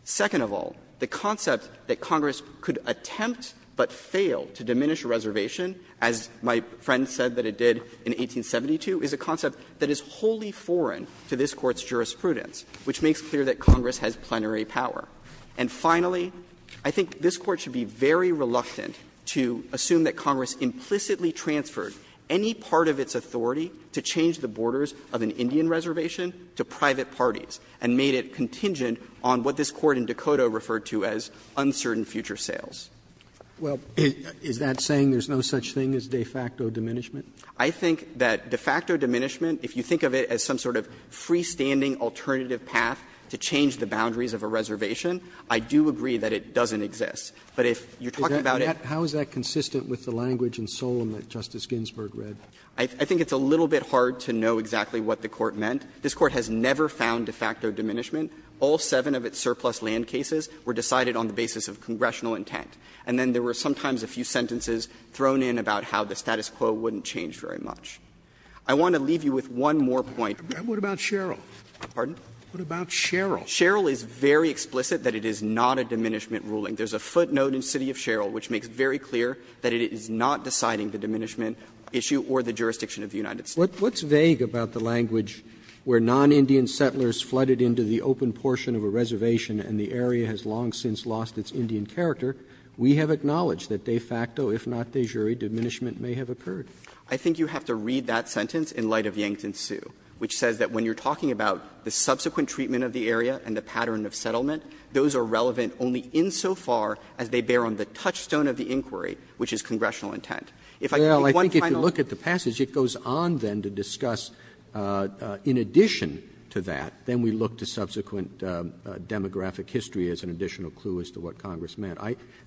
Second of all, the concept that Congress could attempt but fail to diminish a reservation, as my friend said that it did in 1872, is a concept that is wholly foreign to this Court's jurisprudence, which makes clear that Congress has plenary power. And finally, I think this Court should be very reluctant to assume that Congress implicitly transferred any part of its authority to change the borders of an Indian reservation to private parties, and made it contingent on what this Court in Dakota referred to as uncertain future sales. Roberts. Well, is that saying there's no such thing as de facto diminishment? I think that de facto diminishment, if you think of it as some sort of freestanding alternative path to change the boundaries of a reservation, I do agree that it doesn't exist. But if you're talking about it How is that consistent with the language in Solem that Justice Ginsburg read? I think it's a little bit hard to know exactly what the Court meant. This Court has never found de facto diminishment. All seven of its surplus land cases were decided on the basis of congressional intent. And then there were sometimes a few sentences thrown in about how the status quo wouldn't change very much. I want to leave you with one more point. Scalia. What about Sherrill? Pardon? What about Sherrill? Sherrill is very explicit that it is not a diminishment ruling. There's a footnote in City of Sherrill which makes very clear that it is not deciding the diminishment issue or the jurisdiction of the United States. Roberts. What's vague about the language where non-Indian settlers flooded into the open portion of a reservation and the area has long since lost its Indian character, we have acknowledged that de facto, if not de jure, diminishment may have occurred? I think you have to read that sentence in light of Yankton Sioux, which says that when you're talking about the subsequent treatment of the area and the pattern of settlement, those are relevant only insofar as they bear on the touchstone of the inquiry, which is congressional intent. If I could make one final point. Roberts. Well, I think if you look at the passage, it goes on then to discuss, in addition to that, then we look to subsequent demographic history as an additional clue as to what Congress meant.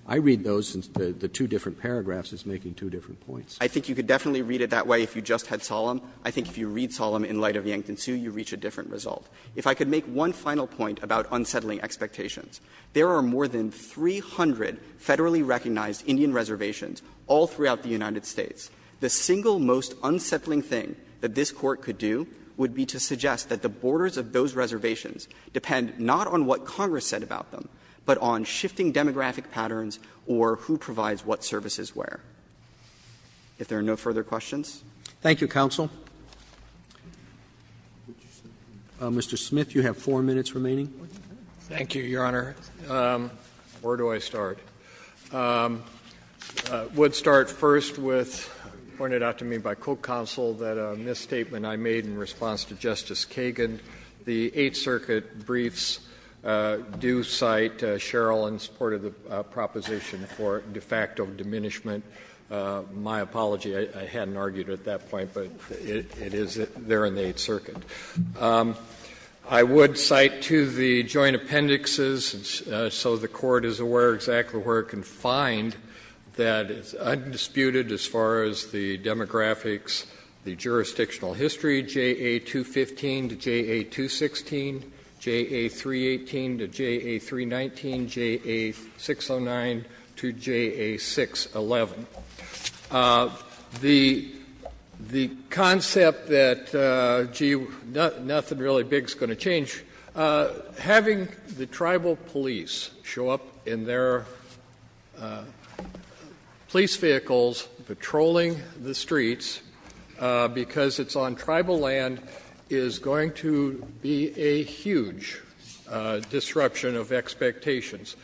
I read those in the two different paragraphs as making two different points. I think you could definitely read it that way if you just had Solemn. I think if you read Solemn in light of Yankton Sioux, you reach a different result. If I could make one final point about unsettling expectations, there are more than 300 federally recognized Indian reservations all throughout the United States. The single most unsettling thing that this Court could do would be to suggest that the borders of those reservations depend not on what Congress said about them, but on shifting demographic patterns or who provides what services where. If there are no further questions. Roberts. Thank you, counsel. Mr. Smith, you have 4 minutes remaining. Thank you, Your Honor. Where do I start? I would start first with, pointed out to me by Coke Counsel, that a misstatement I made in response to Justice Kagan, the Eighth Circuit briefs do cite Sherrill in support of the proposition for de facto diminishment. My apology, I hadn't argued it at that point, but it is there in the Eighth Circuit. I would cite to the joint appendixes, so the Court is aware exactly where it can find, that is undisputed as far as the demographics, the jurisdictional history, JA215 to JA216, JA318 to JA319, JA609 to JA611. The concept that, gee, nothing really big is going to change. Having the tribal police show up in their police vehicles patrolling the streets, because it's on tribal land, is going to be a huge disruption of expectations.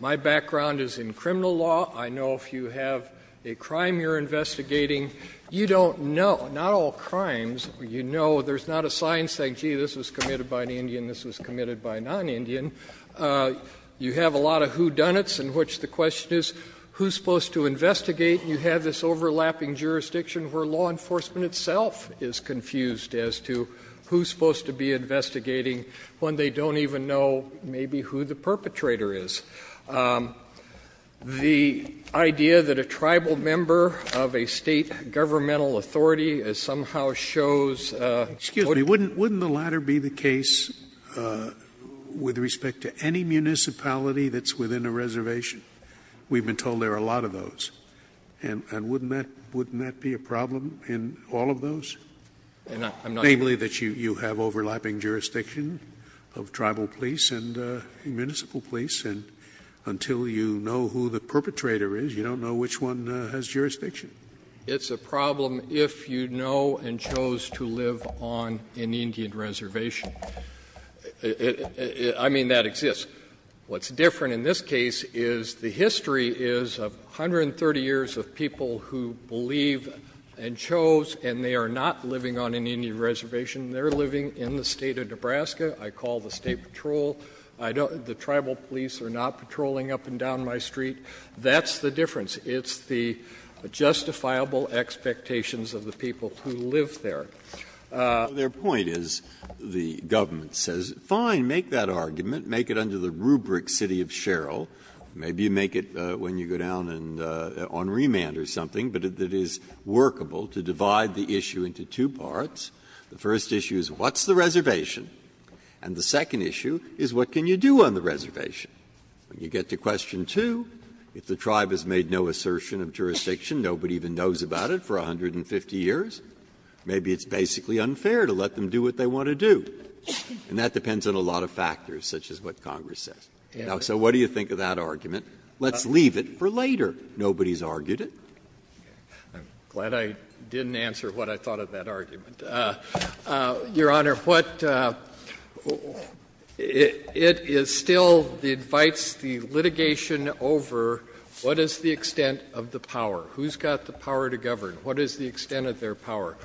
My background is in criminal law. I know if you have a crime you're investigating, you don't know, not all crimes, you know there's not a science saying, gee, this was committed by an Indian, this was committed by a non-Indian. You have a lot of whodunits in which the question is, who's supposed to investigate? You have this overlapping jurisdiction where law enforcement itself is confused as to who's supposed to be investigating when they don't even know maybe who the perpetrator is. The idea that a tribal member of a State governmental authority somehow shows. Scalia, wouldn't the latter be the case with respect to any municipality that's within a reservation? We've been told there are a lot of those. And wouldn't that be a problem in all of those? Namely, that you have overlapping jurisdiction of tribal police and municipal police and until you know who the perpetrator is, you don't know which one has jurisdiction. It's a problem if you know and chose to live on an Indian reservation. I mean, that exists. What's different in this case is the history is of 130 years of people who believe and chose and they are not living on an Indian reservation, they're living in the state of Nebraska. I call the state patrol. The tribal police are not patrolling up and down my street. That's the difference. It's the justifiable expectations of the people who live there. Breyer, their point is, the government says, fine, make that argument, make it under the rubric city of Sherrill. Maybe you make it when you go down on remand or something, but it is workable to divide the issue into two parts. The first issue is what's the reservation? And the second issue is what can you do on the reservation? When you get to question two, if the tribe has made no assertion of jurisdiction, nobody even knows about it for 150 years, maybe it's basically unfair to let them do what they want to do. And that depends on a lot of factors, such as what Congress says. Now, so what do you think of that argument? Let's leave it for later. Nobody's argued it. I'm glad I didn't answer what I thought of that argument. Your Honor, it is still the advice, the litigation over what is the extent of the power? Who's got the power to govern? What is the extent of their power?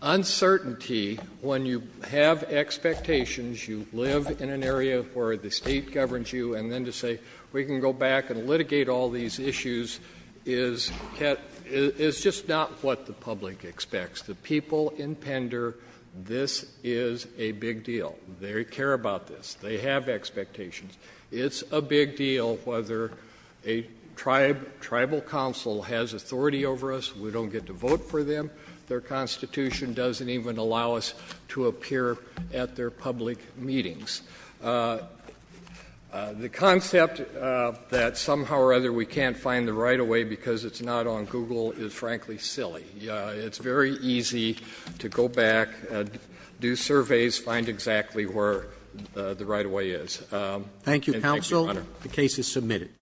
Uncertainty, when you have expectations, you live in an area where the state governs you, and then to say, we can go back and litigate all these issues, is just not what the public expects. The people in Pender, this is a big deal. They care about this. They have expectations. It's a big deal whether a tribal council has authority over us. We don't get to vote for them. Their Constitution doesn't even allow us to appear at their public meetings. The concept that somehow or other we can't find the right-of-way because it's not on Google is, frankly, silly. It's very easy to go back, do surveys, find exactly where the right-of-way is. Roberts.